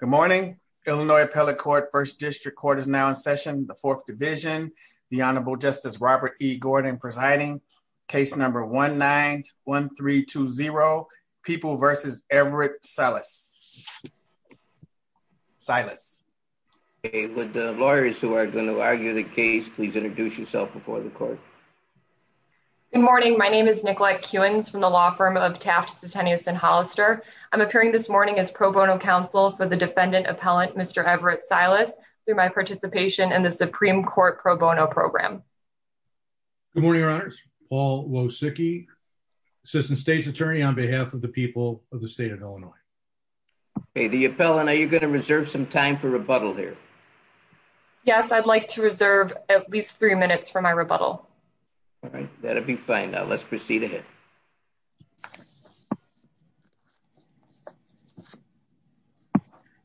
Good morning, Illinois Appellate Court, 1st District Court is now in session, the 4th Division, the Honorable Justice Robert E. Gordon presiding, case number 1-9-1-3-2-0, People v. Everett Silas. Silas. Okay, would the lawyers who are going to argue the case please introduce yourself before the court. Good morning, my name is Nicolette Kewins from the law firm of Taft, Titanius & Hollister. I'm appearing this morning as pro bono counsel for the defendant appellant, Mr. Everett Silas, through my participation in the Supreme Court pro bono program. Good morning, Your Honors, Paul Wosicki, Assistant State's Attorney on behalf of the people of the state of Illinois. Okay, the appellant, are you going to reserve some time for rebuttal here? Yes, I'd like to reserve at least three minutes for my rebuttal. All right, that'd be fine. Now let's proceed ahead.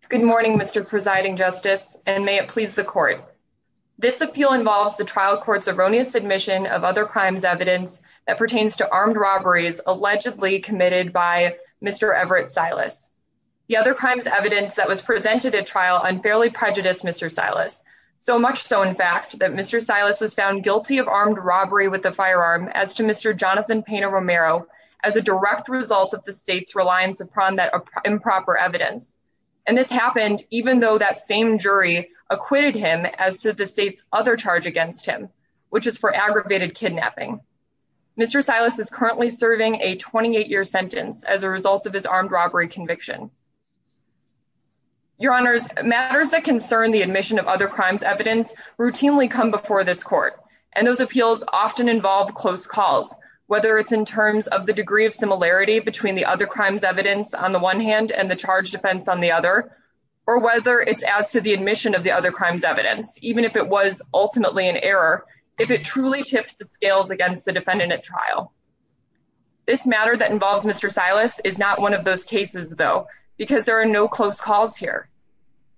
Good morning, Mr. Presiding Justice, and may it please the court. This appeal involves the trial court's erroneous admission of other crimes evidence that pertains to armed robberies allegedly committed by Mr. Everett Silas. The other crimes evidence that was presented at trial unfairly prejudiced Mr. Silas. So much so, in fact, that Mr. Silas was found guilty of armed robbery with a firearm as to Mr. Jonathan Pena Romero as a direct result of the state's reliance upon that improper evidence. And this happened even though that same jury acquitted him as to the state's other charge against him, which is for aggravated kidnapping. Mr. Silas is currently serving a 28-year sentence as a result of his armed robbery conviction. Your Honors, matters that concern the admission of other crimes evidence routinely come before this court. And those appeals often involve close calls, whether it's in terms of the degree of similarity between the other crimes evidence on the one hand and the charge defense on the other. Or whether it's as to the admission of the other crimes evidence, even if it was ultimately an error, if it truly tips the scales against the defendant at trial. This matter that involves Mr. Silas is not one of those cases, though, because there are no close calls here.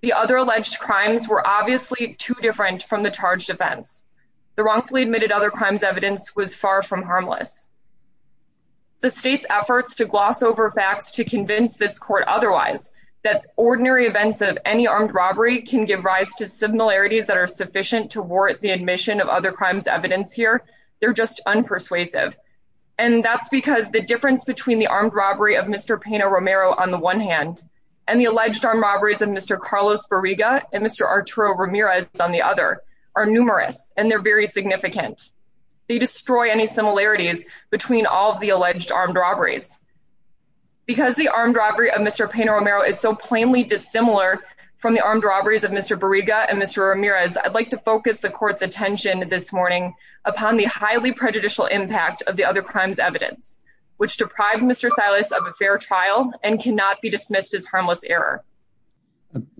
The other alleged crimes were obviously too different from the charge defense. The wrongfully admitted other crimes evidence was far from harmless. The state's efforts to gloss over facts to convince this court otherwise, that ordinary events of any armed robbery can give rise to similarities that are sufficient to warrant the admission of other crimes evidence here, they're just unpersuasive. And that's because the difference between the armed robbery of Mr. Pena-Romero on the one hand, and the alleged armed robberies of Mr. Carlos Barriga and Mr. Arturo Ramirez on the other are numerous, and they're very significant. They destroy any similarities between all of the alleged armed robberies. Because the armed robbery of Mr. Pena-Romero is so plainly dissimilar from the armed robberies of Mr. Barriga and Mr. Ramirez, I'd like to focus the court's attention this morning upon the highly prejudicial impact of the other crimes evidence, which deprived Mr. Silas of a fair trial and cannot be dismissed as harmless error.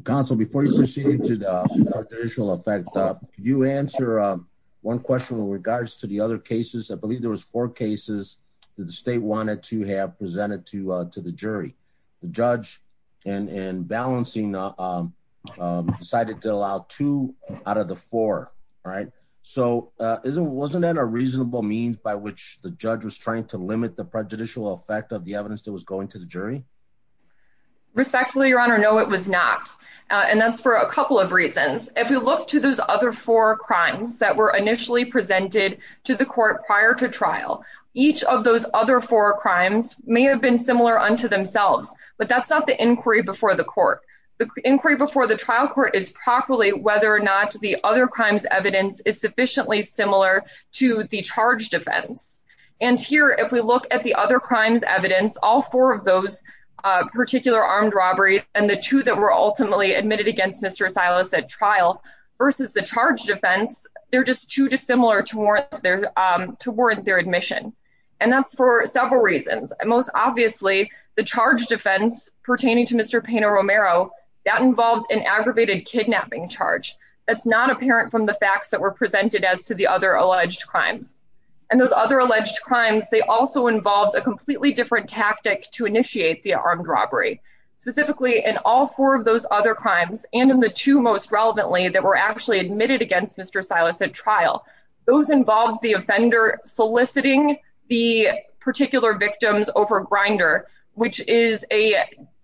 Counsel, before you proceed to the effect, you answer one question with regards to the other cases, I believe there was four cases that the state wanted to have presented to, to the jury, the judge, and balancing decided to allow two out of the four. Right. So, isn't wasn't that a reasonable means by which the judge was trying to limit the prejudicial effect of the evidence that was going to the jury. Respectfully, Your Honor, no, it was not. And that's for a couple of reasons. If you look to those other four crimes that were initially presented to the court prior to trial. Each of those other four crimes may have been similar unto themselves, but that's not the inquiry before the court, the inquiry before the trial court is properly whether or not the other crimes evidence is sufficiently similar to the charge defense. And here, if we look at the other crimes evidence all four of those particular armed robberies, and the two that were ultimately admitted against Mr Silas at trial versus the charge defense, they're just too dissimilar to warrant their to warrant their admission. And that's for several reasons. Most obviously, the charge defense pertaining to Mr Pino Romero that involves an aggravated kidnapping charge. That's not apparent from the facts that were presented as to the other alleged crimes. And those other alleged crimes. They also involved a completely different tactic to initiate the armed robbery, specifically in all four of those other crimes, and in the two most relevantly that were actually admitted against Mr Silas at trial. Those involves the offender soliciting the particular victims over grinder, which is a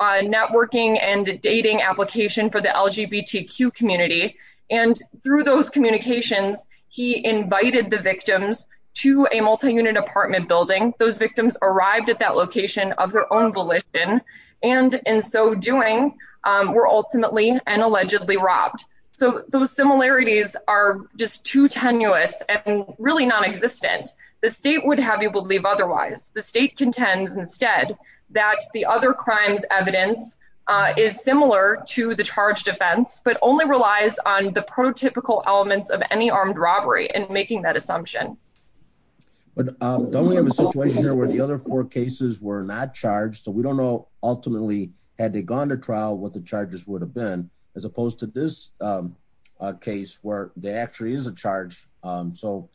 networking and dating application for the LGBTQ community. And through those communications, he invited the victims to a multi unit apartment building, those victims arrived at that location of their own volition. And in so doing, we're ultimately and allegedly robbed. So those similarities are just too tenuous and really non existent, the state would have you believe otherwise the state contends instead that the other crimes evidence is similar to the charge defense, but only relies on the prototypical elements of any armed robbery and making that assumption. But don't we have a situation here where the other four cases were not charged so we don't know. Ultimately, had they gone to trial what the charges would have been as opposed to this case where they actually is a charge. So,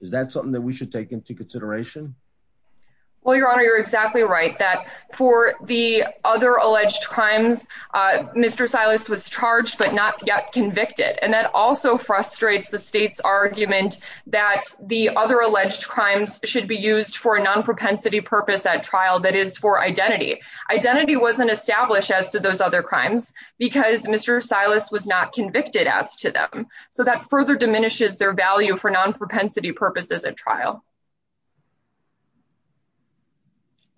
is that something that we should take into consideration. Well, Your Honor, you're exactly right that for the other alleged crimes. Mr Silas was charged but not yet convicted and that also frustrates the state's argument that the other alleged crimes should be used for a non propensity purpose at trial that is for identity identity wasn't established as to those other crimes, because Mr Silas was not convicted as to them, so that further diminishes their value for non propensity purposes at trial.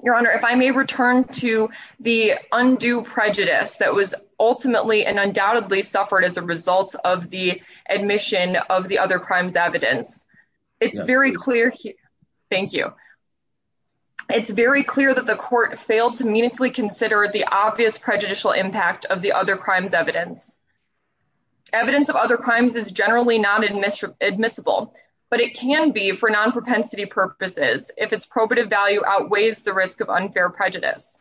Your Honor, if I may return to the undue prejudice that was ultimately and undoubtedly suffered as a result of the admission of the other crimes evidence. It's very clear. Thank you. It's very clear that the court failed to meaningfully consider the obvious prejudicial impact of the other crimes evidence. Evidence of other crimes is generally not admissible admissible, but it can be for non propensity purposes, if it's probative value outweighs the risk of unfair prejudice.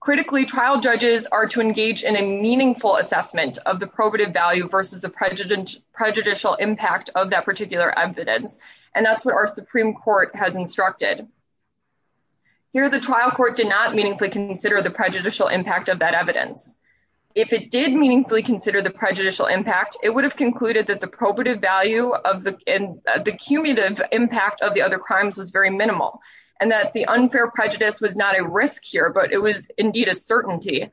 Critically trial judges are to engage in a meaningful assessment of the probative value versus the prejudice prejudicial impact of that particular evidence, and that's what our Supreme Court has instructed here the trial court did not meaningfully consider the prejudicial impact of that evidence. If it did meaningfully consider the prejudicial impact, it would have concluded that the probative value of the, and the cumulative impact of the other crimes was very minimal, and that the unfair prejudice was not a risk here but it was indeed a certainty.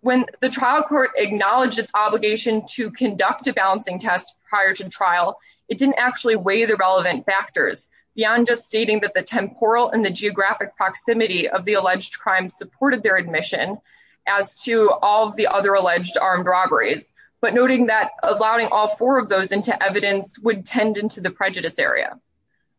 When the trial court acknowledged its obligation to conduct a balancing test prior to trial. It didn't actually weigh the relevant factors beyond just stating that the temporal and the geographic proximity of the alleged crime supported their admission. As to all the other alleged armed robberies, but noting that allowing all four of those into evidence would tend into the prejudice area.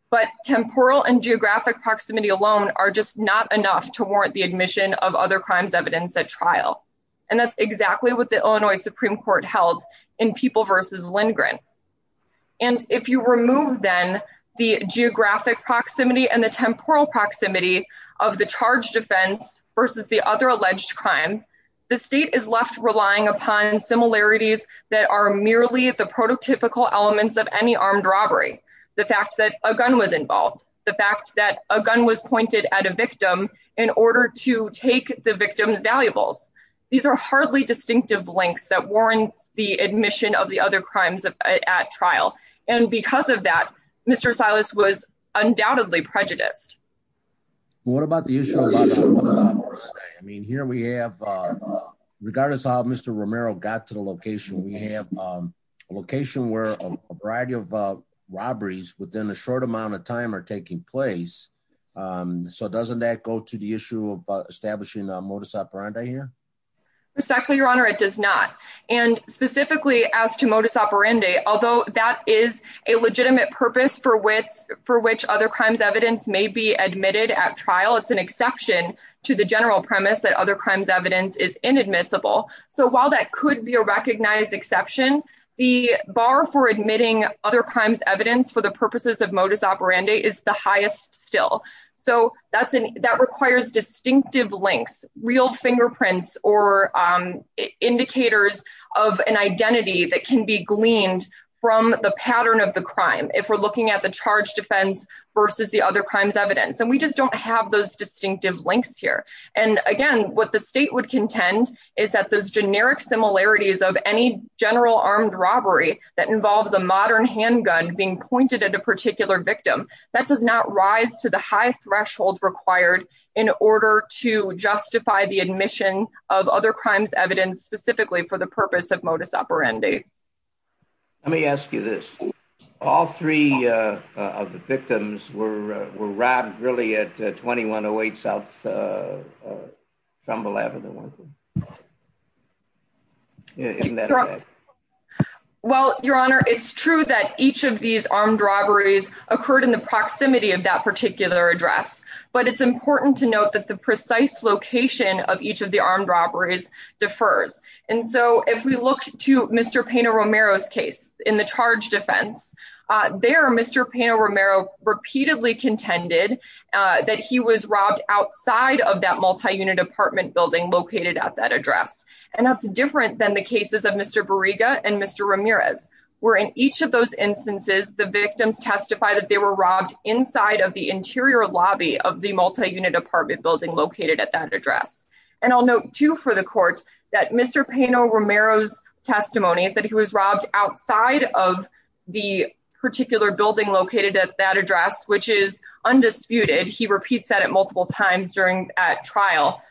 But temporal and geographic proximity alone are just not enough to warrant the admission of other crimes evidence at trial. And that's exactly what the Illinois Supreme Court held in people versus Lindgren. And if you remove then the geographic proximity and the temporal proximity of the charge defense versus the other alleged crime. The state is left relying upon similarities that are merely the prototypical elements of any armed robbery, the fact that a gun was involved, the fact that a gun was pointed at a victim in order to take the victims valuables. These are hardly distinctive links that warrants the admission of the other crimes at trial. And because of that, Mr Silas was undoubtedly prejudiced. What about the issue. I mean, here we have, regardless of Mr Romero got to the location we have location where a variety of robberies within a short amount of time are taking place. So doesn't that go to the issue of establishing a modus operandi here. Respectfully, Your Honor, it does not. And specifically as to modus operandi, although that is a legitimate purpose for which for which other crimes evidence may be admitted at trial, it's an exception to the general premise that other crimes evidence is inadmissible. So while that could be a recognized exception, the bar for admitting other crimes evidence for the purposes of modus operandi is the highest still. So that's an that requires distinctive links real fingerprints or indicators of an identity that can be gleaned from the pattern of the crime, if we're looking at the charge defense versus the other crimes evidence and we just don't have those distinctive links here. And again, what the state would contend is that those generic similarities of any general armed robbery that involves a modern handgun being pointed at a particular victim that does not rise to the high threshold required in order to justify the admission of other crimes evidence specifically for the purpose of modus operandi. Let me ask you this. All three of the victims were were robbed really at 2108 South Trumbull Avenue. Well, Your Honor, it's true that each of these armed robberies occurred in the proximity of that particular address, but it's important to note that the precise location of each of the armed robberies defers. And so if we look to Mr. Pena Romero's case in the charge defense, there Mr. Pena Romero repeatedly contended that he was robbed outside of that multi-unit apartment building located at that address. And that's different than the cases of Mr. Bariga and Mr. Ramirez were in each of those instances the victims testify that they were robbed inside of the interior lobby of the multi-unit apartment building located at that address. And I'll note too for the court that Mr. Pena Romero's testimony that he was robbed outside of the particular building located at that address, which is undisputed. He repeats that at multiple times during that trial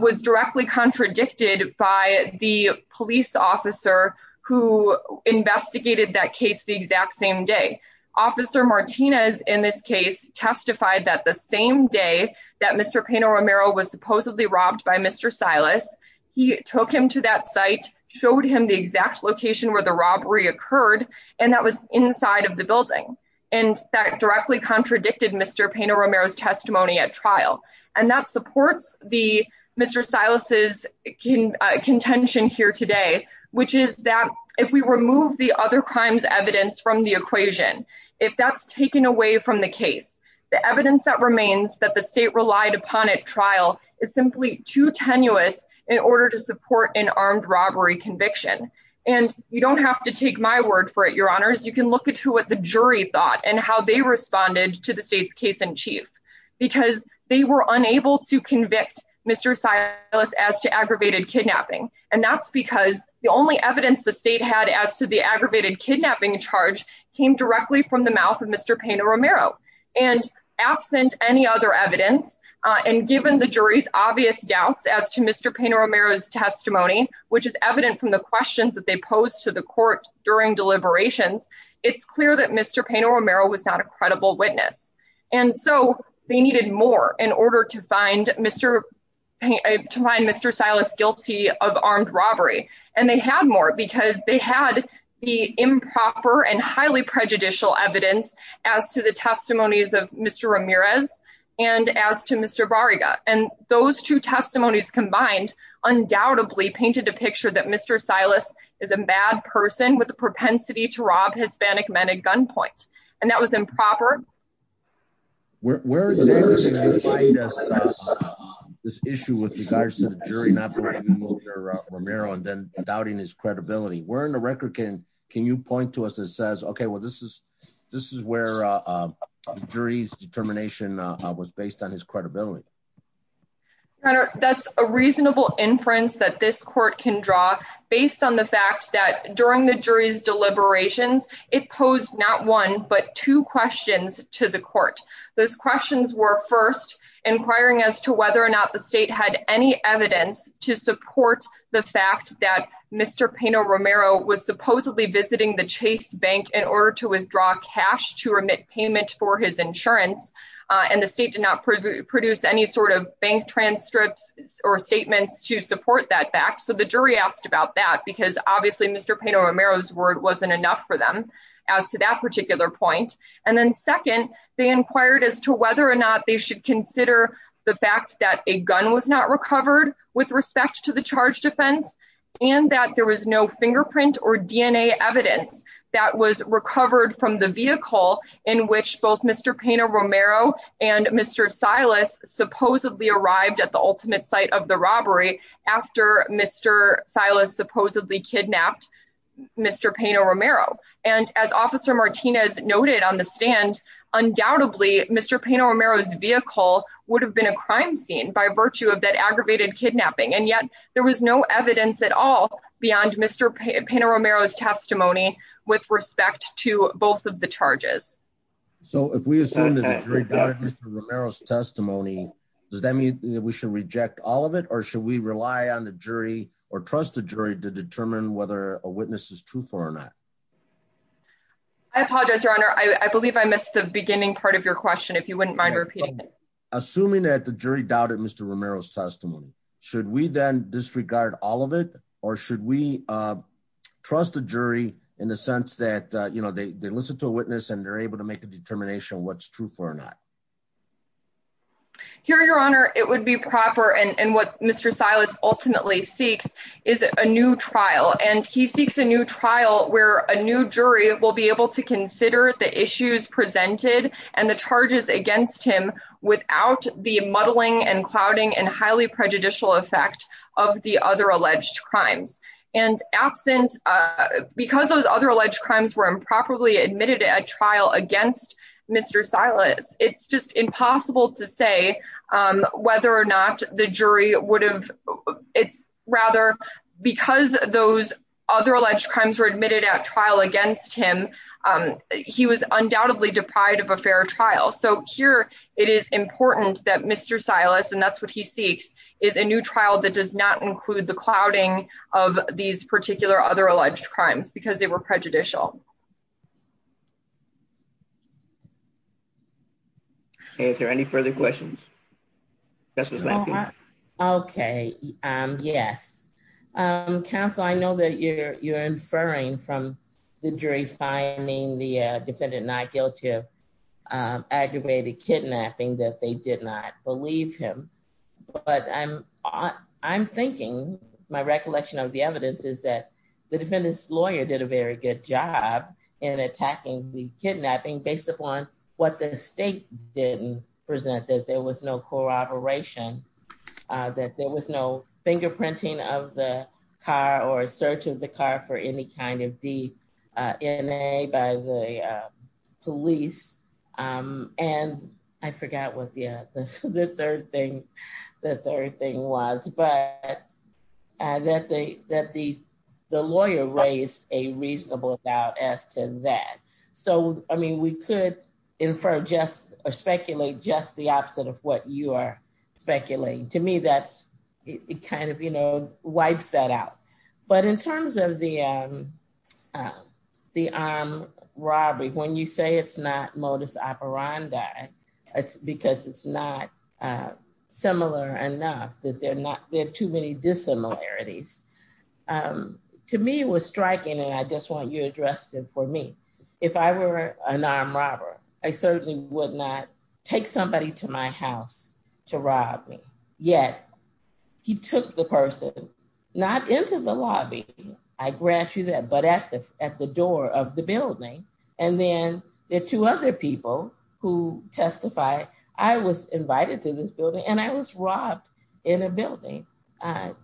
was directly contradicted by the police officer who investigated that case the exact same day. Officer Martinez in this case testified that the same day that Mr. Pena Romero was supposedly robbed by Mr. Silas. He took him to that site, showed him the exact location where the robbery occurred, and that was inside of the building. And that directly contradicted Mr. Pena Romero's testimony at trial. And that supports the Mr. Silas's contention here today, which is that if we remove the other crimes evidence from the equation, if that's taken away from the case, the evidence that remains that the state relied upon at trial is simply too tenuous in order to support an armed robbery conviction. And you don't have to take my word for it, Your Honors. You can look into what the jury thought and how they responded to the state's case in chief. Because they were unable to convict Mr. Silas as to aggravated kidnapping. And that's because the only evidence the state had as to the aggravated kidnapping charge came directly from the mouth of Mr. Pena Romero. And absent any other evidence, and given the jury's obvious doubts as to Mr. Pena Romero's testimony, which is evident from the questions that they posed to the court during deliberations, it's clear that Mr. Pena Romero was not a credible witness. And so they needed more in order to find Mr. Silas guilty of armed robbery. And they had more because they had the improper and highly prejudicial evidence as to the testimonies of Mr. Ramirez and as to Mr. Bariga. And those two testimonies combined undoubtedly painted a picture that Mr. Silas is a bad person with the propensity to rob Hispanic men at gunpoint. And that was improper. Where exactly did you find this issue with regards to the jury not believing Mr. Romero and then doubting his credibility? Where in the record can you point to us that says, okay, well, this is where the jury's determination was based on his credibility? That's a reasonable inference that this court can draw based on the fact that during the jury's deliberations, it posed not one but two questions to the court. Those questions were first inquiring as to whether or not the state had any evidence to support the fact that Mr. Pena Romero was supposedly visiting the Chase Bank in order to withdraw cash to remit payment for his insurance. And the state did not produce any sort of bank transcripts or statements to support that fact. So the jury asked about that because obviously Mr. Pena Romero's word wasn't enough for them as to that particular point. And then second, they inquired as to whether or not they should consider the fact that a gun was not recovered with respect to the charge defense. And that there was no fingerprint or DNA evidence that was recovered from the vehicle in which both Mr. Pena Romero and Mr. Silas supposedly arrived at the ultimate site of the robbery after Mr. Silas supposedly kidnapped Mr. Pena Romero. And as Officer Martinez noted on the stand, undoubtedly Mr. Pena Romero's vehicle would have been a crime scene by virtue of that aggravated kidnapping. And yet there was no evidence at all beyond Mr. Pena Romero's testimony with respect to both of the charges. So if we assume that Mr. Romero's testimony, does that mean that we should reject all of it? Or should we rely on the jury or trust the jury to determine whether a witness is truthful or not? I apologize, Your Honor. I believe I missed the beginning part of your question, if you wouldn't mind repeating it. Assuming that the jury doubted Mr. Romero's testimony, should we then disregard all of it? Or should we trust the jury in the sense that they listen to a witness and they're able to make a determination what's true for or not? Here, Your Honor, it would be proper and what Mr. Silas ultimately seeks is a new trial. And he seeks a new trial where a new jury will be able to consider the issues presented and the charges against him without the muddling and clouding and highly prejudicial effect of the other alleged crimes. Because those other alleged crimes were improperly admitted at trial against Mr. Silas, it's just impossible to say whether or not the jury would have... Rather, because those other alleged crimes were admitted at trial against him, he was undoubtedly deprived of a fair trial. So here, it is important that Mr. Silas, and that's what he seeks, is a new trial that does not include the clouding of these particular other alleged crimes because they were prejudicial. Is there any further questions? Okay, yes. Counsel, I know that you're inferring from the jury finding the defendant not guilty of aggravated kidnapping that they did not believe him. But I'm thinking, my recollection of the evidence is that the defendant's lawyer did a very good job in attacking the kidnapping based upon what the state didn't present, that there was no corroboration, that there was no fingerprinting of the car or search of the car for any kind of DNA by the police. And I forgot what the third thing was, but that the lawyer raised a reasonable doubt as to that. So, I mean, we could infer or speculate just the opposite of what you are speculating. To me, it kind of wipes that out. But in terms of the armed robbery, when you say it's not modus operandi, it's because it's not similar enough, that there are too many dissimilarities. To me, what's striking, and I just want you to address it for me, if I were an armed robber, I certainly would not take somebody to my house to rob me. Yet, he took the person, not into the lobby, I grant you that, but at the door of the building. And then there are two other people who testify, I was invited to this building and I was robbed in a building.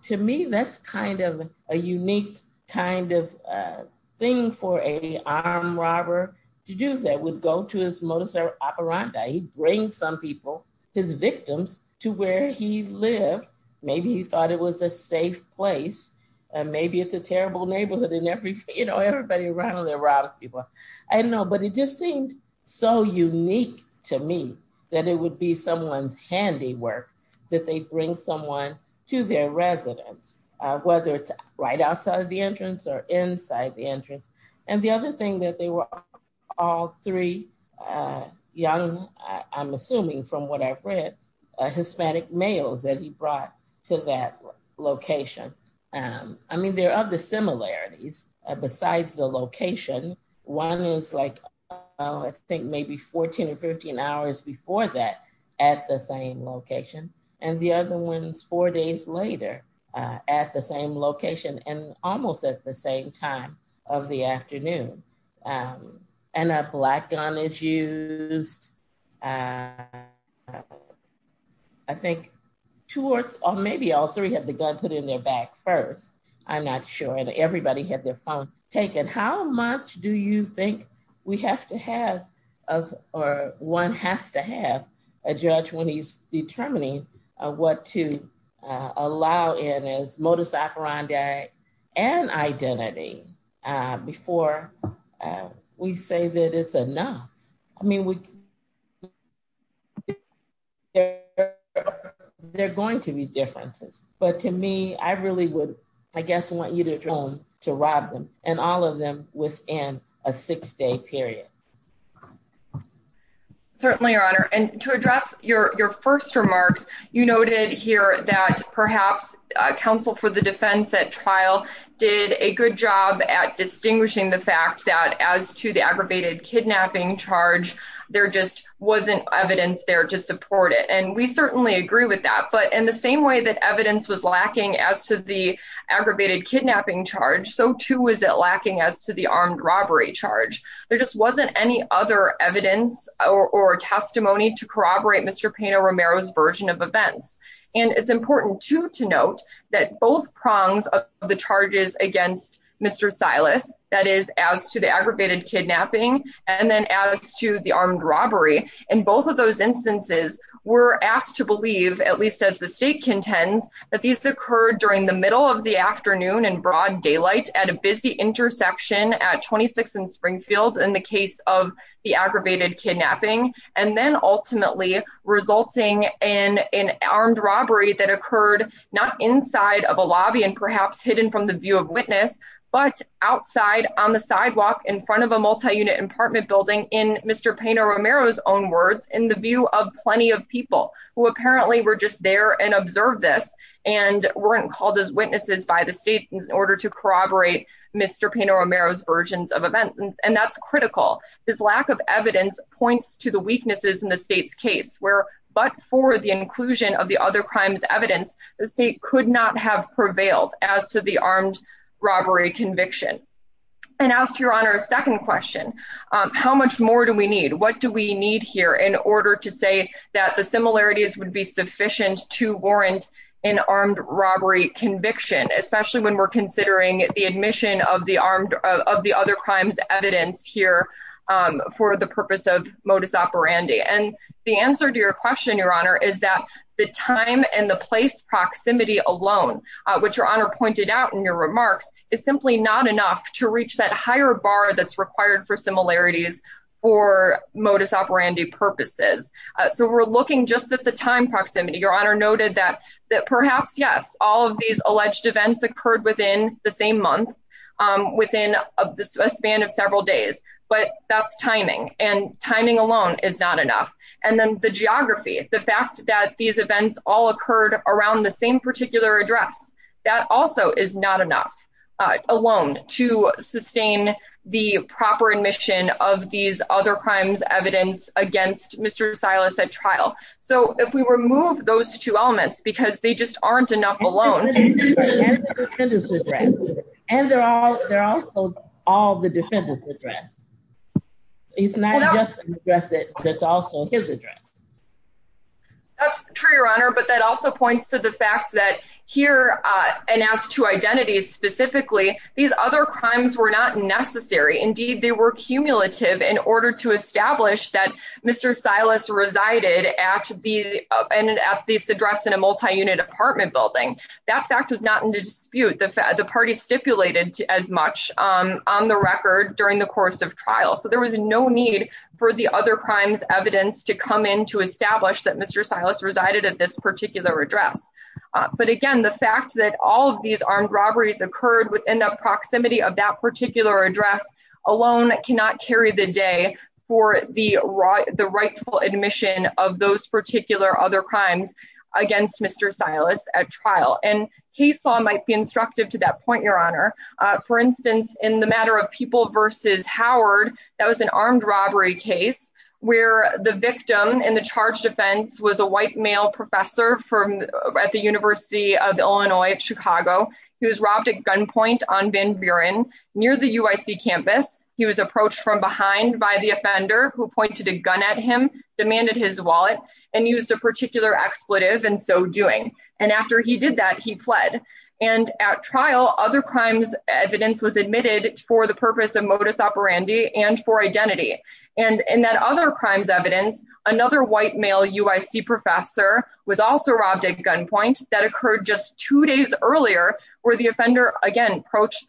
To me, that's kind of a unique kind of thing for an armed robber to do, that would go to his modus operandi. He brings some people, his victims, to where he lived. Maybe he thought it was a safe place. Maybe it's a terrible neighborhood and everybody around there robs people. I don't know, but it just seemed so unique to me that it would be someone's handiwork that they bring someone to their residence, whether it's right outside the entrance or inside the entrance. And the other thing that they were all three young, I'm assuming from what I've read, Hispanic males that he brought to that location. I mean, there are other similarities besides the location. One is like, I think maybe 14 or 15 hours before that at the same location. And the other one is four days later at the same location and almost at the same time of the afternoon. And a black gun is used. I think two or maybe all three had the gun put in their back first. I'm not sure. And everybody had their phone taken. How much do you think we have to have or one has to have a judge when he's determining what to allow in his modus operandi and identity before we say that it's enough? I mean, there are going to be differences. But to me, I really would, I guess, want you to try to rob them and all of them within a six-day period. Certainly, Your Honor. And to address your first remarks, you noted here that perhaps counsel for the defense at trial did a good job at distinguishing the fact that as to the aggravated kidnapping charge, there just wasn't evidence there to support it. And we certainly agree with that. But in the same way that evidence was lacking as to the aggravated kidnapping charge, so too was it lacking as to the armed robbery charge. There just wasn't any other evidence or testimony to corroborate Mr. Pino Romero's version of events. And it's important, too, to note that both prongs of the charges against Mr. Silas, that is, as to the aggravated kidnapping and then as to the armed robbery. In both of those instances, we're asked to believe, at least as the state contends, that these occurred during the middle of the afternoon in broad daylight at a busy intersection at 26th and Springfield in the case of the aggravated kidnapping. And then ultimately resulting in an armed robbery that occurred not inside of a lobby and perhaps hidden from the view of witness, but outside on the sidewalk in front of a multi-unit apartment building, in Mr. Pino Romero's own words, in the view of plenty of people who apparently were just there and observed this and weren't called as witnesses by the state in order to corroborate Mr. Pino Romero's versions of events. And that's critical. This lack of evidence points to the weaknesses in the state's case where, but for the inclusion of the other crimes evidence, the state could not have prevailed as to the armed robbery conviction. And as to Your Honor's second question, how much more do we need? What do we need here in order to say that the similarities would be sufficient to warrant an armed robbery conviction, especially when we're considering the admission of the other crimes evidence here for the purpose of modus operandi? And the answer to your question, Your Honor, is that the time and the place proximity alone, which Your Honor pointed out in your remarks, is simply not enough to reach that higher bar that's required for similarities for modus operandi purposes. So we're looking just at the time proximity. Your Honor noted that perhaps, yes, all of these alleged events occurred within the same month, within a span of several days, but that's timing and timing alone is not enough. And then the geography, the fact that these events all occurred around the same particular address, that also is not enough alone to sustain the proper admission of these other crimes evidence against Mr. Silas at trial. So if we remove those two elements, because they just aren't enough alone. That's true, Your Honor, but that also points to the fact that here, and as to identities specifically, these other crimes were not necessary. Indeed, they were cumulative in order to establish that Mr. Silas resided at the address in a multi-unit apartment building. That fact was not in the dispute. The party stipulated as much on the record during the course of trial. So there was no need for the other crimes evidence to come in to establish that Mr. Silas resided at this particular address. But again, the fact that all of these armed robberies occurred within the proximity of that particular address alone cannot carry the day for the rightful admission of those particular other crimes against Mr. Silas at trial. And case law might be instructive to that point, Your Honor. For instance, in the matter of People v. Howard, that was an armed robbery case where the victim in the charged offense was a white male professor at the University of Illinois at Chicago. He was robbed at gunpoint on Van Buren near the UIC campus. He was approached from behind by the offender who pointed a gun at him, demanded his wallet, and used a particular expletive in so doing. And after he did that, he fled. And at trial, other crimes evidence was admitted for the purpose of modus operandi and for identity. And in that other crimes evidence, another white male UIC professor was also robbed at gunpoint. That occurred just two days earlier, where the offender again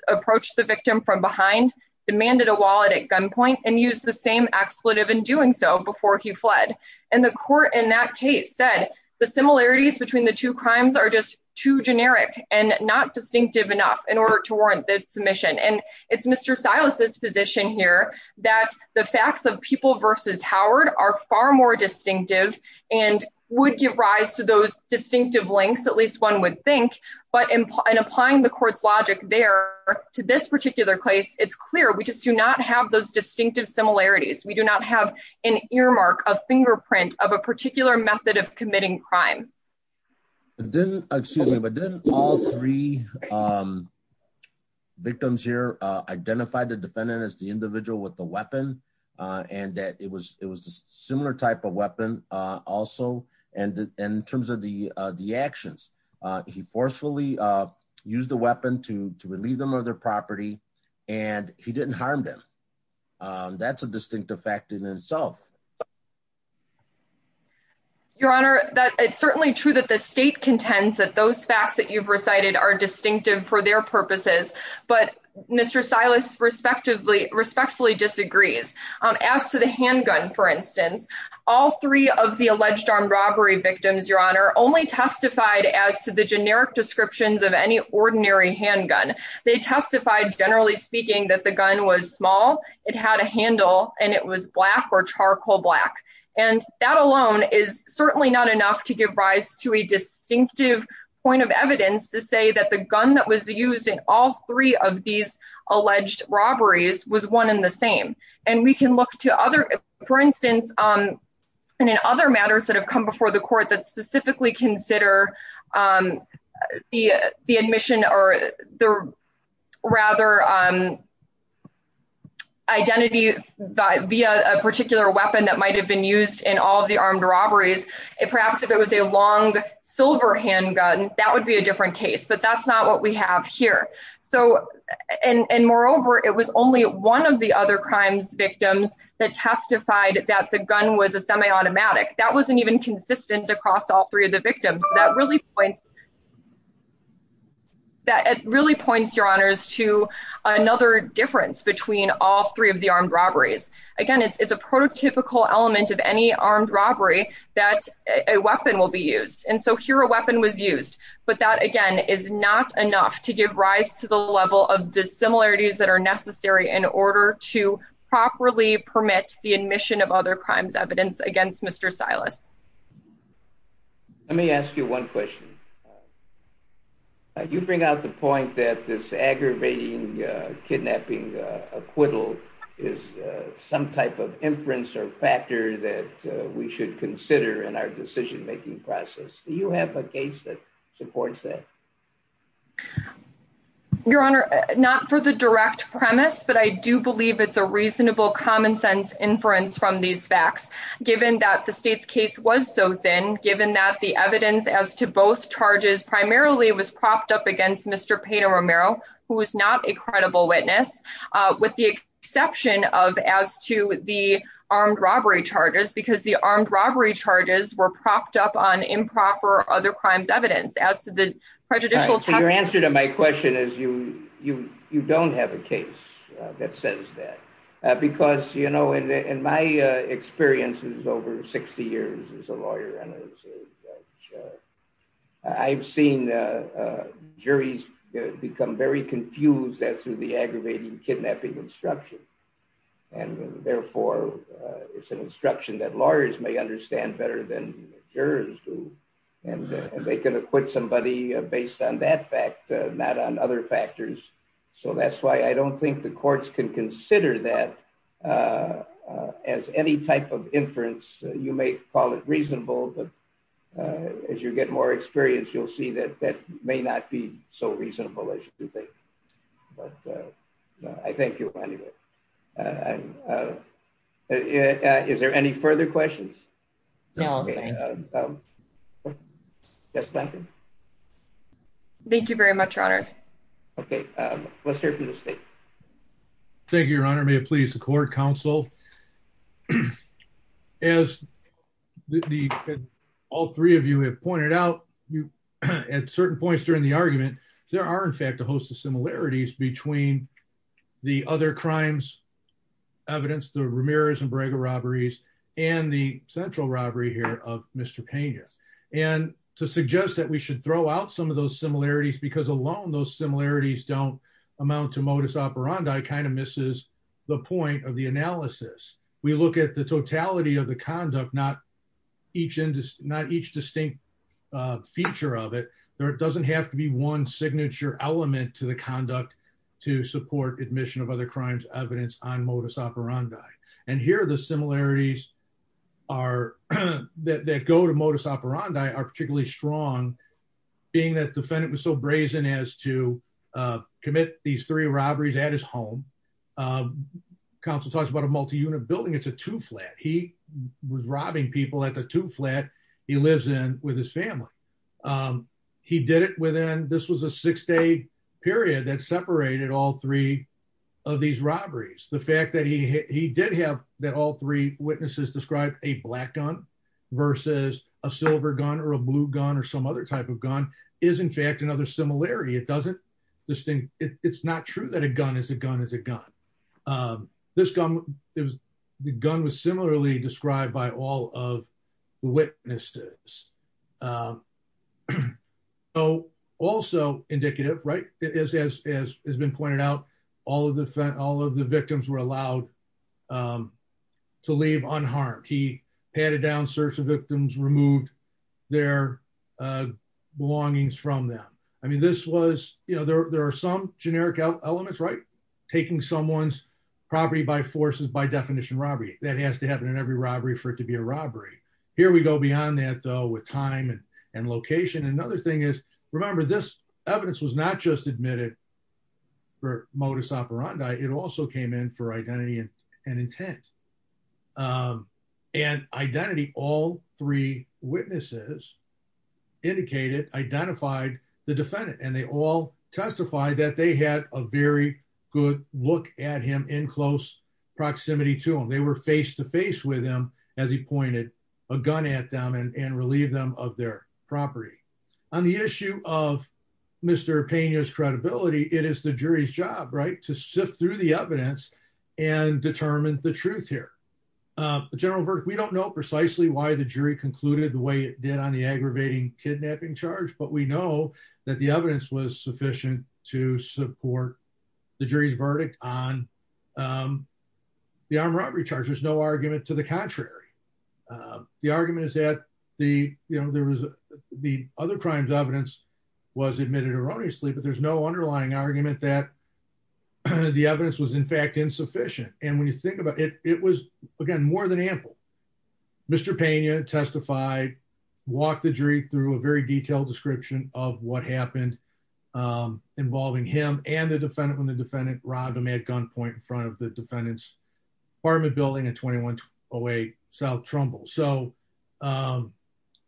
approached the victim from behind, demanded a wallet at gunpoint, and used the same expletive in doing so before he fled. And the court in that case said the similarities between the two crimes are just too generic and not distinctive enough in order to warrant the submission. And it's Mr. Silas's position here that the facts of People v. Howard are far more distinctive and would give rise to those distinctive links, at least one would think. But in applying the court's logic there to this particular case, it's clear we just do not have those distinctive similarities. We do not have an earmark, a fingerprint of a particular method of committing crime. Excuse me, but didn't all three victims here identify the defendant as the individual with the weapon, and that it was a similar type of weapon also? And in terms of the actions, he forcefully used the weapon to relieve them of their property, and he didn't harm them. That's a distinctive fact in itself. Your Honor, it's certainly true that the state contends that those facts that you've recited are distinctive for their purposes, but Mr. Silas respectfully disagrees. As to the handgun, for instance, all three of the alleged armed robbery victims, Your Honor, only testified as to the generic descriptions of any ordinary handgun. They testified, generally speaking, that the gun was small, it had a handle, and it was black or charcoal black. And that alone is certainly not enough to give rise to a distinctive point of evidence to say that the gun that was used in all three of these alleged robberies was one and the same. And we can look to other, for instance, and in other matters that have come before the court that specifically consider the admission or the rather identity via a particular weapon that might have been used in all of the armed robberies, perhaps if it was a long silver handgun, that would be a different case, but that's not what we have here. And moreover, it was only one of the other crimes victims that testified that the gun was a semi-automatic. That wasn't even consistent across all three of the victims. That really points to another difference between all three of the armed robberies. Again, it's a prototypical element of any armed robbery that a weapon will be used. And so here a weapon was used, but that again is not enough to give rise to the level of the similarities that are necessary in order to properly permit the admission of other crimes evidence against Mr. Silas. Let me ask you one question. You bring out the point that this aggravating kidnapping acquittal is some type of inference or factor that we should consider in our decision making process. Do you have a case that supports that? Your Honor, not for the direct premise, but I do believe it's a reasonable common sense inference from these facts, given that the state's case was so thin, given that the evidence as to both charges primarily was propped up against Mr. Pedro Romero, who is not a credible witness, with the exception of as to the armed robbery charges, because the armed robbery charges were propped up on improper other crimes evidence as to the prejudicial test. Your Honor, my question is, you don't have a case that says that. Because, you know, in my experiences over 60 years as a lawyer, I've seen juries become very confused as to the aggravating kidnapping instruction. And therefore, it's an instruction that lawyers may understand better than jurors do. And they can acquit somebody based on that fact, not on other factors. So that's why I don't think the courts can consider that as any type of inference. You may call it reasonable, but as you get more experience, you'll see that that may not be so reasonable as you think. But I thank you anyway. Is there any further questions? No. Thank you very much, Your Honors. Okay, let's hear from the state. Thank you, Your Honor. May it please the court, counsel. As all three of you have pointed out, at certain points during the argument, there are in fact a host of similarities between the other crimes evidence, the Ramirez and Brega robberies, and the central robbery here of Mr. Pena. And to suggest that we should throw out some of those similarities because alone those similarities don't amount to modus operandi kind of misses the point of the analysis. We look at the totality of the conduct, not each distinct feature of it. There doesn't have to be one signature element to the conduct to support admission of other crimes evidence on modus operandi. And here the similarities that go to modus operandi are particularly strong, being that defendant was so brazen as to commit these three robberies at his home. Counsel talks about a multi-unit building. It's a two flat. He was robbing people at the two flat he lives in with his family. He did it within this was a six day period that separated all three of these robberies. The fact that he did have that all three witnesses described a black gun versus a silver gun or a blue gun or some other type of gun is in fact another similarity. It doesn't distinct. It's not true that a gun is a gun is a gun. This gun is the gun was similarly described by all of the witnesses. Oh, also indicative right it is as has been pointed out, all of the all of the victims were allowed to leave unharmed he patted down search of victims removed their belongings from them. I mean this was, you know, there are some generic elements right taking someone's property by forces by definition robbery, that has to happen in every robbery for it to be a robbery. Here we go beyond that though with time and location. Another thing is, remember this evidence was not just admitted for modus operandi, it also came in for identity and intent. And identity, all three witnesses indicated identified the defendant and they all testify that they had a very good look at him in close proximity to them they were face to face with him, as he pointed a gun at them and relieve them of their property on the issue of Mr pain is credibility, it is the jury's job right to sift through the evidence and determine the truth here. General Burke we don't know precisely why the jury concluded the way it did on the aggravating kidnapping charge but we know that the evidence was sufficient to support the jury's verdict on the armed robbery charges no argument to the contrary. The argument is that the, you know, there was the other crimes evidence was admitted erroneously but there's no underlying argument that the evidence was in fact insufficient, and when you think about it, it was again more than ample. Mr Pena testified, walk the jury through a very detailed description of what happened, involving him and the defendant when the defendant robbed him at gunpoint in front of the defendants apartment building and 21 away, South Trumbull so the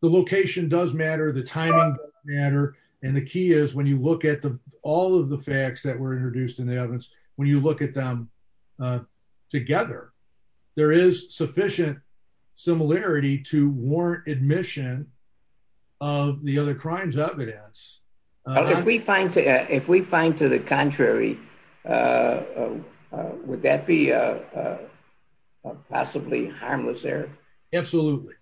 location does matter the time matter. And the key is when you look at the all of the facts that were introduced in the evidence. When you look at them together. There is sufficient similarity to warrant admission of the other crimes evidence. If we find to if we find to the contrary. Would that be a possibly harmless there. Absolutely,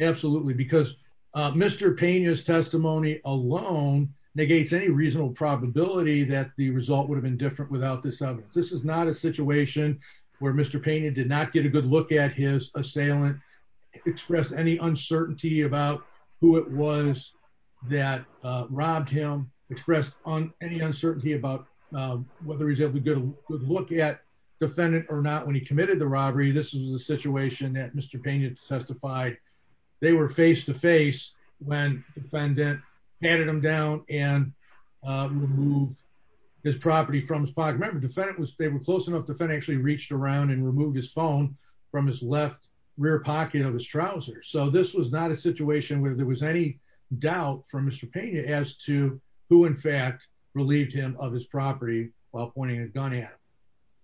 absolutely because Mr Pena his testimony alone negates any reasonable probability that the result would have been different without this evidence. This is not a situation where Mr Pena did not get a good look at his assailant express any uncertainty about who it was that robbed him expressed on any uncertainty about whether he's able to get a good look at defendant or not when he committed the robbery. This is the situation that Mr Pena testified, they were face to face when defendant handed them down and move his property from his pocket remember defendant was they were close enough to actually reached around and remove his phone from his left rear pocket of his trousers so this was not a situation where there was any doubt from Mr Pena as to who in fact relieved him of his property, while pointing a gun at.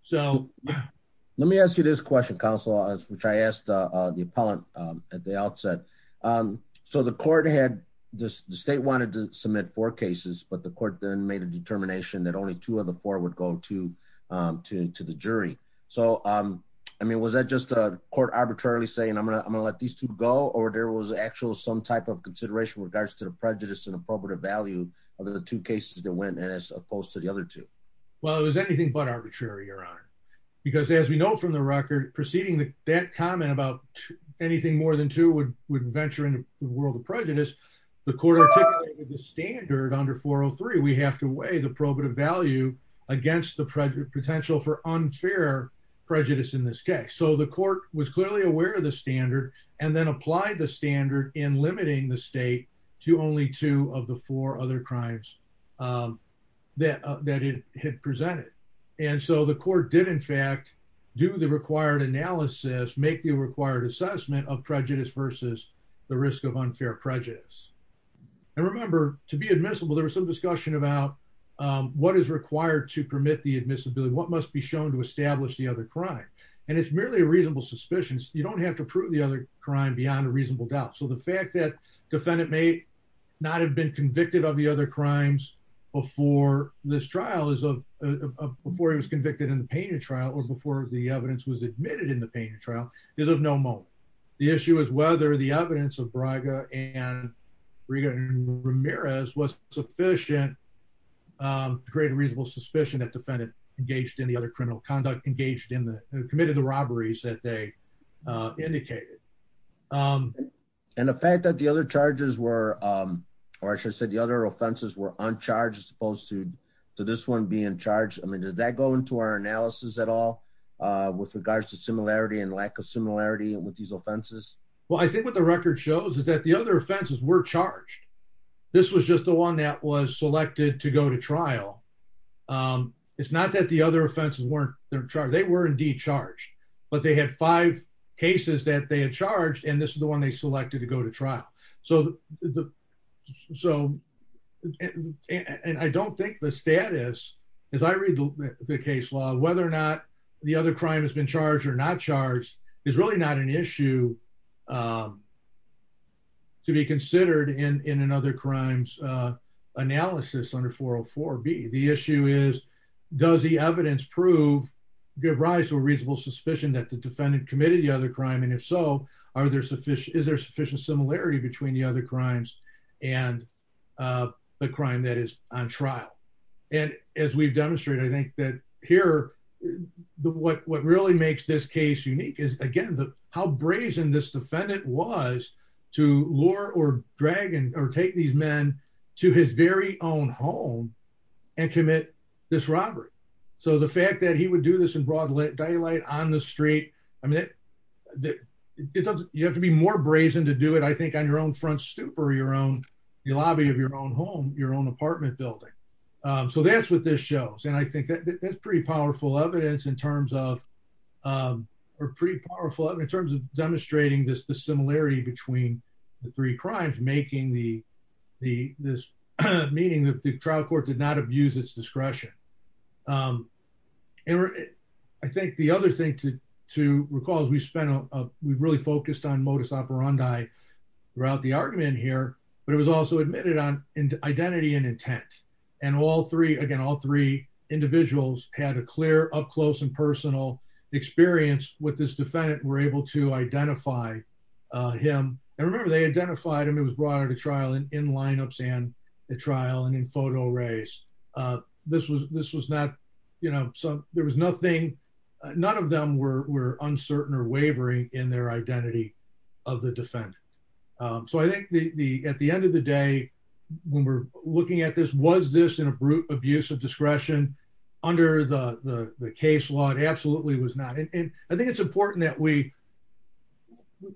So, let me ask you this question Council as which I asked the appellant at the outset. So the court had this state wanted to submit for cases but the court then made a determination that only two of the four would go to, to the jury. So, um, I mean was that just a court arbitrarily saying I'm gonna I'm gonna let these two go or there was actual some type of consideration regards to the prejudice and appropriate value of the two cases that went as opposed to the other two. Well it was anything but arbitrary your honor, because as we know from the record proceeding that that comment about anything more than two would venture into the world of prejudice. The court standard under 403 we have to weigh the probative value against the project potential for unfair prejudice in this case so the court was clearly aware of the standard, and then apply the standard in limiting the state to only two of the four other crimes. That that he had presented. And so the court did in fact do the required analysis make the required assessment of prejudice versus the risk of unfair prejudice. And remember, to be admissible there was some discussion about what is required to permit the admissibility what must be shown to establish the other crime, and it's merely a reasonable suspicions, you don't have to prove the other crime beyond a reasonable doubt so the fact that defendant may not have been convicted of the other crimes before this trial is a before he was convicted in the painting trial or before the evidence was admitted in the painting trial is of no moment. The issue is whether the evidence of Braga and Regan Ramirez was sufficient to create a reasonable suspicion that defendant engaged in the other criminal conduct engaged in the committed the robberies that they indicated. And the fact that the other charges were, or should I said the other offenses were on charges opposed to this one being charged I mean does that go into our analysis at all. With regards to similarity and lack of similarity with these offenses. Well I think what the record shows is that the other offenses were charged. This was just the one that was selected to go to trial. It's not that the other offenses weren't there, they were indeed charged, but they had five cases that they had charged and this is the one they selected to go to trial. So, so, and I don't think the status, as I read the case law, whether or not the other crime has been charged or not charged is really not an issue to be considered in another crimes analysis under 404 B. The issue is, does the evidence prove, give rise to a reasonable suspicion that the defendant committed the other crime and if so, are there sufficient, is there sufficient similarity between the other crimes and the crime that is on trial. And as we've demonstrated I think that here, what really makes this case unique is again the how brazen this defendant was to lure or drag and or take these men to his very own home and commit this robbery. So the fact that he would do this in broad daylight on the street. I mean, you have to be more brazen to do it I think on your own front stoop or your own lobby of your own home, your own apartment building. So that's what this shows and I think that's pretty powerful evidence in terms of are pretty powerful in terms of demonstrating this the similarity between the three crimes making the, the, this meaning that the trial court did not abuse its discretion. And I think the other thing to to recall is we spent a, we really focused on modus operandi throughout the argument here, but it was also admitted on identity and intent, and all three again all three individuals had a clear up close and personal experience with this this was not, you know, so there was nothing. None of them were uncertain or wavering in their identity of the defendant. So I think the at the end of the day, when we're looking at this was this in a brute abuse of discretion under the case log absolutely was not and I think it's important that we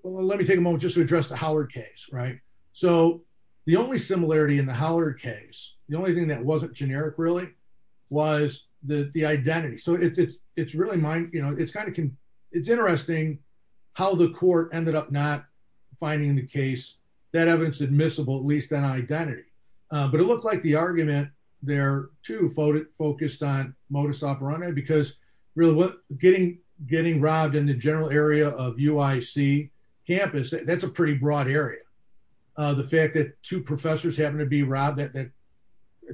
let me take a moment just to address the Howard case right. So, the only similarity in the Howard case, the only thing that wasn't generic really was the identity so it's it's it's really my, you know, it's kind of, it's interesting how the court ended up not finding the case that evidence admissible at least an identity, but it looks like the argument there to focus focused on modus operandi because really what getting getting robbed in the general area of UIC campus, that's a pretty broad area. The fact that two professors happen to be robbed that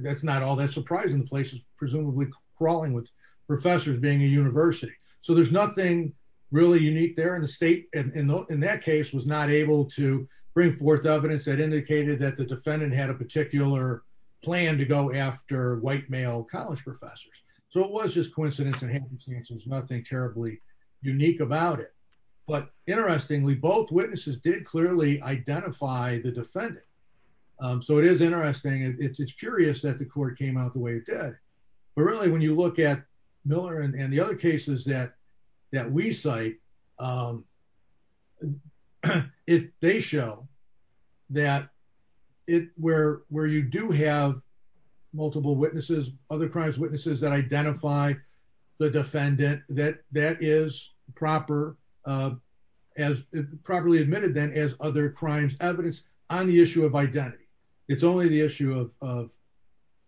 that's not all that surprising places, presumably crawling with professors being a university, so there's nothing really unique there in the state, and in that case was not able to bring forth evidence that indicated that the defendant had a particular plan to go after white male college professors. So it was just coincidence and happenstance there's nothing terribly unique about it. But, interestingly, both witnesses did clearly identify the defendant. So it is interesting it's curious that the court came out the way it did. But really when you look at Miller and the other cases that that we cite it, they show that it where, where you do have multiple witnesses, other crimes witnesses that identify the defendant that that is proper as properly admitted then as other crimes evidence on the issue of identity. It's only the issue of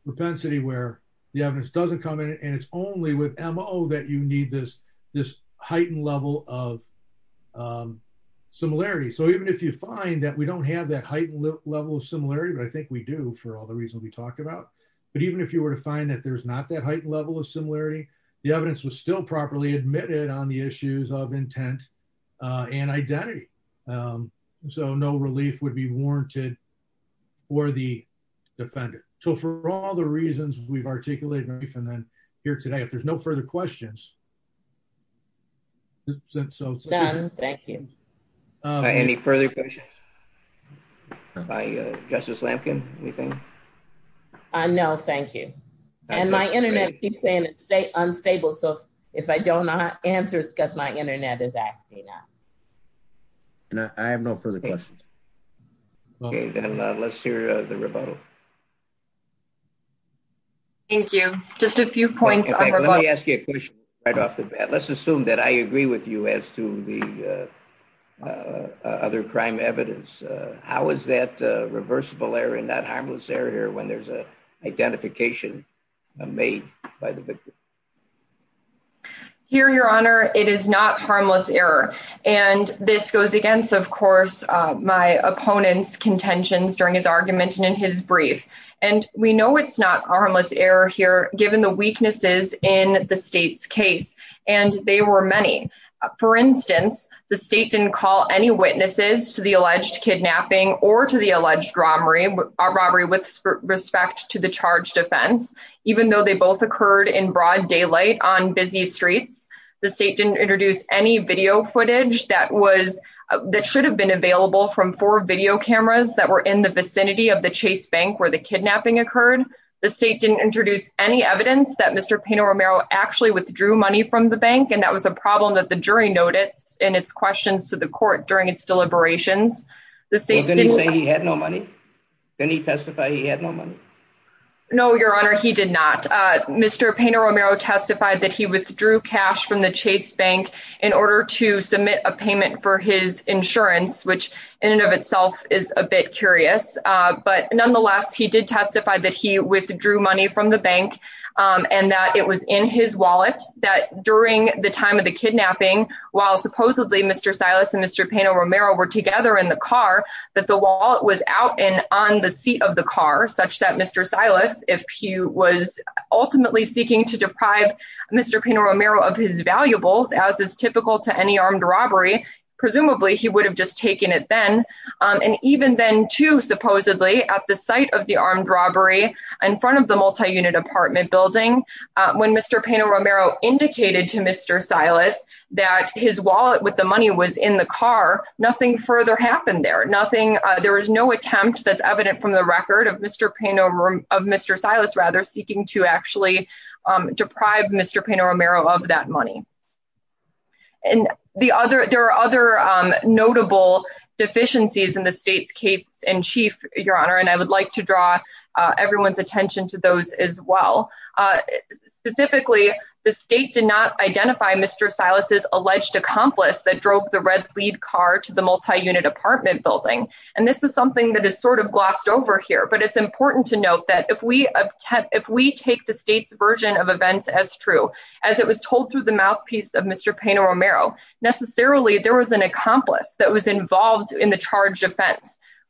propensity where the evidence doesn't come in and it's only with mo that you need this, this heightened level of similarity so even if you find that we don't have that heightened level of similarity but I think we do for all the reasons we talked about. But even if you were to find that there's not that height level of similarity. The evidence was still properly admitted on the issues of intent and identity. So no relief would be warranted for the defender. So for all the reasons we've articulated and then here today if there's no further questions. Thank you. Any further questions by Justice Lampkin, anything. No, thank you. And my internet keeps saying it stay unstable so if I don't know how to answer it's because my internet is asking me now. I have no further questions. Okay, then let's hear the rebuttal. Thank you. Just a few points. Let me ask you a question right off the bat. Let's assume that I agree with you as to the other crime evidence. How is that reversible error and not harmless error when there's a identification made by the victim. Here Your Honor, it is not harmless error. And this goes against of course my opponent's contentions during his argument and in his brief, and we know it's not harmless error here, given the weaknesses in the state's case, and they were many. For instance, the state didn't call any witnesses to the alleged kidnapping or to the alleged robbery or robbery with respect to the charge defense, even though they both occurred in broad daylight on busy streets. The state didn't introduce any video footage that was that should have been available from for video cameras that were in the vicinity of the Chase Bank where the kidnapping occurred. The state didn't introduce any evidence that Mr. Pino Romero actually withdrew money from the bank and that was a problem that the jury noted in its questions to the court during its deliberations, the state didn't say he had no money. Then he testified he had no money. No, Your Honor, he did not. Mr. Pino Romero testified that he withdrew cash from the Chase Bank in order to submit a payment for his insurance, which in and of itself is a bit curious. But nonetheless, he did testify that he withdrew money from the bank and that it was in his wallet that during the time of the kidnapping, while supposedly Mr. Silas and Mr. Pino Romero were together in the car, that the wallet was out and on the seat of the car such that Mr. Silas, if he was ultimately seeking to deprive Mr. Pino Romero of his valuables as is typical to any armed robbery, presumably he would have just taken it then. And even then, too, supposedly at the site of the armed robbery in front of the multi-unit apartment building, when Mr. Pino Romero indicated to Mr. Silas that his wallet with the money was in the car, nothing further happened there. Nothing, there was no attempt that's evident from the record of Mr. Pino, of Mr. Silas rather seeking to actually deprive Mr. Pino Romero of that money. And the other, there are other notable deficiencies in the state's case in chief, Your Honor, and I would like to draw everyone's attention to those as well. Specifically, the state did not identify Mr. Silas's alleged accomplice that drove the red lead car to the multi-unit apartment building. And this is something that is sort of glossed over here, but it's important to note that if we take the state's version of events as true, as it was told through the mouthpiece of Mr. Pino Romero, necessarily there was an accomplice that was involved in the charged offense.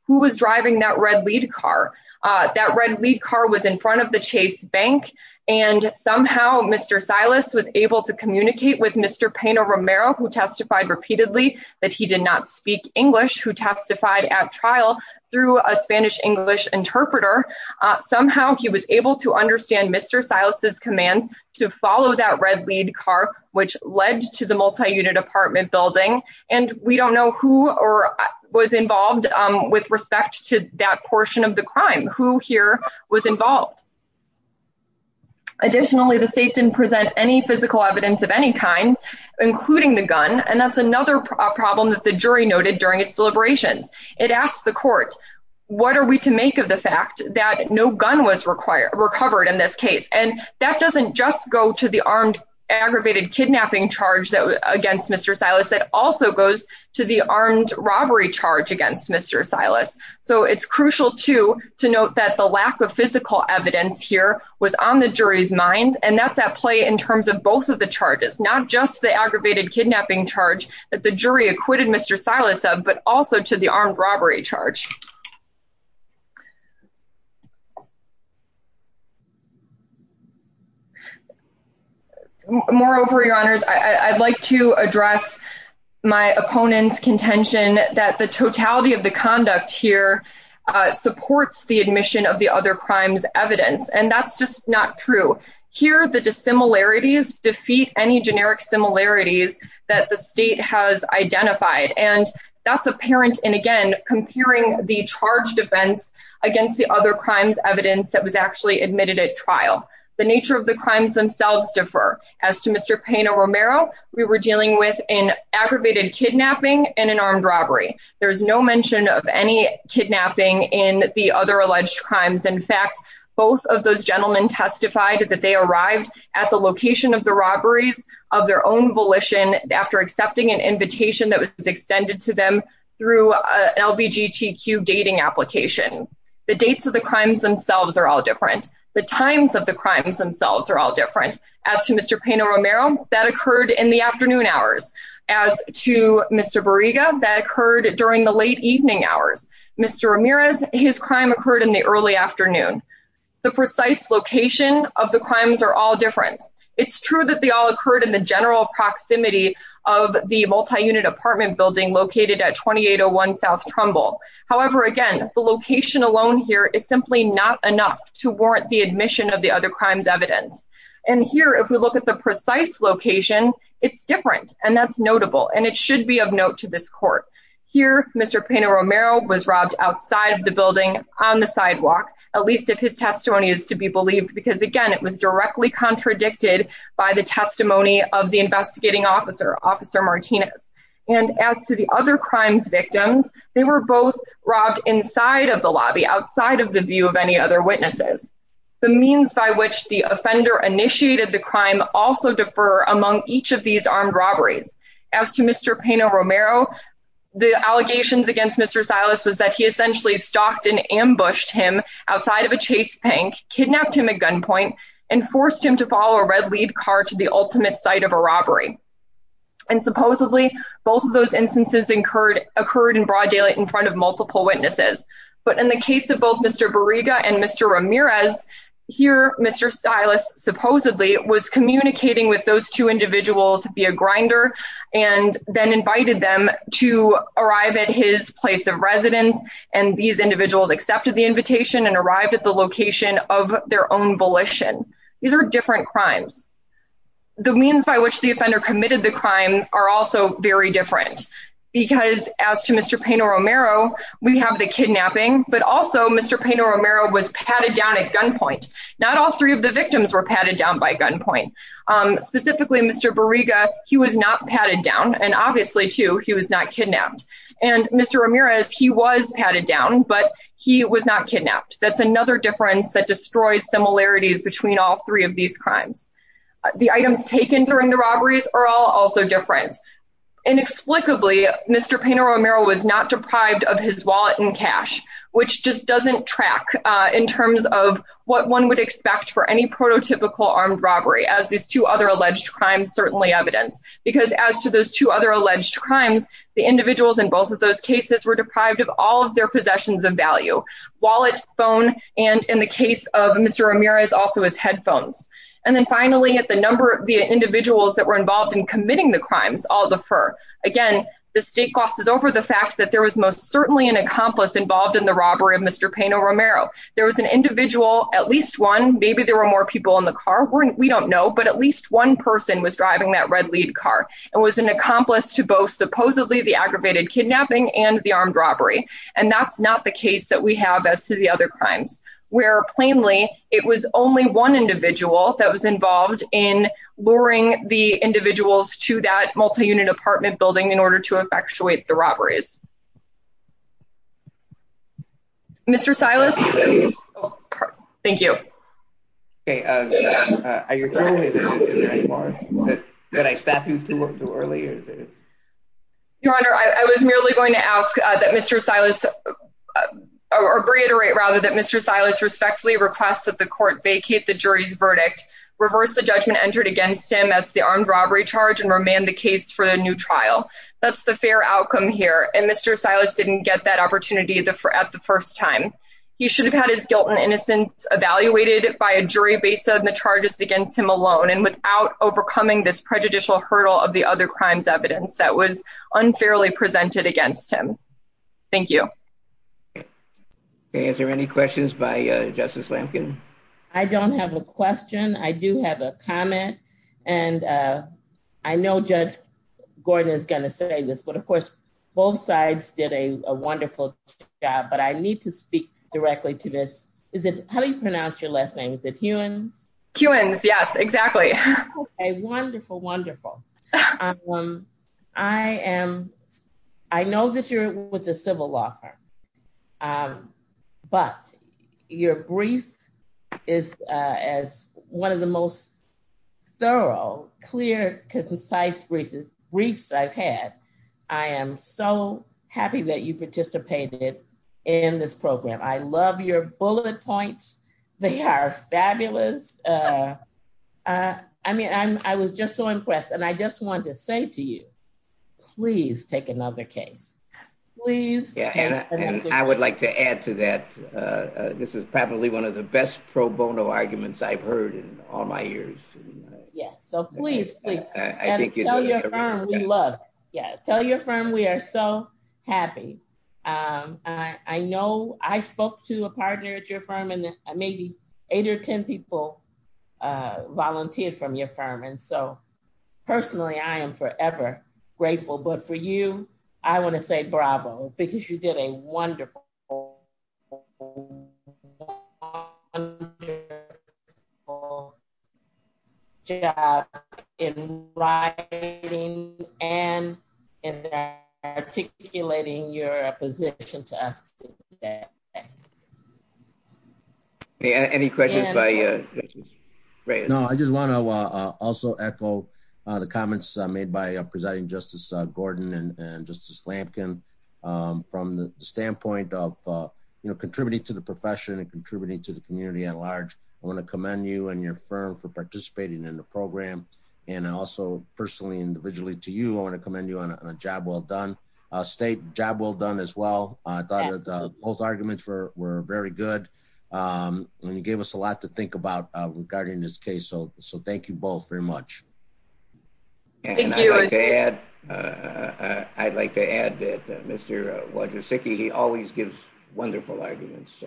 Who was driving that red lead car? That red lead car was in front of the Chase Bank and somehow Mr. Silas was able to communicate with Mr. Pino Romero, who testified repeatedly that he did not speak English, who testified at trial through a Spanish-English interpreter. Somehow he was able to understand Mr. Silas's commands to follow that red lead car, which led to the multi-unit apartment building. And we don't know who was involved with respect to that portion of the crime, who here was involved. Additionally, the state didn't present any physical evidence of any kind, including the gun, and that's another problem that the jury noted during its deliberations. It asked the court, what are we to make of the fact that no gun was recovered in this case? And that doesn't just go to the armed aggravated kidnapping charge against Mr. Silas, that also goes to the armed robbery charge against Mr. Silas. So it's crucial to note that the lack of physical evidence here was on the jury's mind, and that's at play in terms of both of the charges, not just the aggravated kidnapping charge that the jury acquitted Mr. Silas of, but also to the armed robbery charge. Moreover, Your Honors, I'd like to address my opponent's contention that the totality of the conduct here supports the admission of the other crimes evidence, and that's just not true. Here, the dissimilarities defeat any generic similarities that the state has identified, and that's apparent in, again, comparing the charged events against the other crimes evidence that was actually admitted at trial. The nature of the crimes themselves differ. As to Mr. Pena-Romero, we were dealing with an aggravated kidnapping and an armed robbery. There's no mention of any kidnapping in the other alleged crimes. In fact, both of those gentlemen testified that they arrived at the location of the robberies of their own volition after accepting an invitation that was extended to them through an LBGTQ dating application. The dates of the crimes themselves are all different. The times of the crimes themselves are all different. As to Mr. Pena-Romero, that occurred in the afternoon hours. As to Mr. Barriga, that occurred during the late evening hours. Mr. Ramirez, his crime occurred in the early afternoon. The precise location of the crimes are all different. It's true that they all occurred in the general proximity of the multi-unit apartment building located at 2801 South Trumbull. However, again, the location alone here is simply not enough to warrant the admission of the other crimes evidence. And here, if we look at the precise location, it's different, and that's notable, and it should be of note to this court. Here, Mr. Pena-Romero was robbed outside of the building on the sidewalk, at least if his testimony is to be believed, because again, it was directly contradicted by the testimony of the investigating officer, Officer Martinez. And as to the other crimes victims, they were both robbed inside of the lobby, outside of the view of any other witnesses. The means by which the offender initiated the crime also differ among each of these armed robberies. As to Mr. Pena-Romero, the allegations against Mr. Silas was that he essentially stalked and ambushed him outside of a Chase bank, kidnapped him at gunpoint, and forced him to follow a red-lead car to the ultimate site of a robbery. And supposedly, both of those instances occurred in broad daylight in front of multiple witnesses. But in the case of both Mr. Barriga and Mr. Ramirez, here, Mr. Silas supposedly was communicating with those two individuals via grinder, and then invited them to arrive at his place of residence, and these individuals accepted the invitation and arrived at the location of their own volition. These are different crimes. The means by which the offender committed the crime are also very different, because as to Mr. Pena-Romero, we have the kidnapping, but also Mr. Pena-Romero was patted down at gunpoint. Not all three of the victims were patted down by gunpoint. Specifically, Mr. Barriga, he was not patted down, and obviously, too, he was not kidnapped. And Mr. Ramirez, he was patted down, but he was not kidnapped. That's another difference that destroys similarities between all three of these crimes. The items taken during the robberies are all also different. Inexplicably, Mr. Pena-Romero was not deprived of his wallet and cash, which just doesn't track in terms of what one would expect for any prototypical armed robbery, as these two other alleged crimes certainly evidence, because as to those two other alleged crimes, the individuals in both of those cases were deprived of all of their possessions of value, wallet, phone, and in the case of Mr. Ramirez, also his headphones. And then finally, the individuals that were involved in committing the crimes all defer. Again, the state glosses over the fact that there was most certainly an accomplice involved in the robbery of Mr. Pena-Romero. There was an individual, at least one, maybe there were more people in the car, we don't know, but at least one person was driving that red lead car and was an accomplice to both supposedly the aggravated kidnapping and the armed robbery. And that's not the case that we have as to the other crimes, where plainly it was only one individual that was involved in luring the individuals to that multi-unit apartment building in order to effectuate the robberies. Mr. Silas? Thank you. Okay, are you through with it anymore? Did I stop you too early? Your Honor, I was merely going to ask that Mr. Silas, or reiterate rather, that Mr. Silas respectfully request that the court vacate the jury's verdict, reverse the judgment entered against him as the armed robbery charge, and remand the case for the new trial. That's the fair outcome here, and Mr. Silas didn't get that opportunity at the first time. He should have had his guilt and innocence evaluated by a jury based on the charges against him alone and without overcoming this prejudicial hurdle of the other crimes evidence that was unfairly presented against him. Thank you. Okay, is there any questions by Justice Lamkin? I don't have a question. I do have a comment. And I know Judge Gordon is going to say this, but of course, both sides did a wonderful job, but I need to speak directly to this. How do you pronounce your last name? Is it Hewins? Hewins, yes, exactly. Wonderful, wonderful. I am. I know that you're with the civil law firm. But your brief is as one of the most thorough, clear, concise briefs I've had. I am so happy that you participated in this program. I love your bullet points. They are fabulous. I mean, I was just so impressed and I just wanted to say to you, please take another case. And I would like to add to that. This is probably one of the best pro bono arguments I've heard in all my years. Yes, so please, please. Tell your firm we love it. Tell your firm we are so happy. I know I spoke to a partner at your firm and maybe eight or 10 people volunteered from your firm. And so personally, I am forever grateful. But for you, I want to say bravo because you did a wonderful, wonderful job in writing and in articulating your position to us today. Any questions? No, I just want to also echo the comments made by Presiding Justice Gordon and Justice Lampkin. From the standpoint of, you know, contributing to the profession and contributing to the community at large. I want to commend you and your firm for participating in the program. And also personally, individually to you, I want to commend you on a job well done. State, job well done as well. Both arguments were very good. And you gave us a lot to think about regarding this case. So thank you both very much. And I'd like to add that Mr. Wojcicki, he always gives wonderful arguments.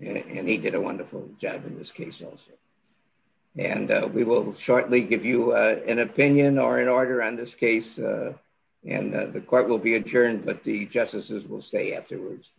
And he did a wonderful job in this case also. And we will shortly give you an opinion or an order on this case. And the court will be adjourned, but the justices will stay afterwards.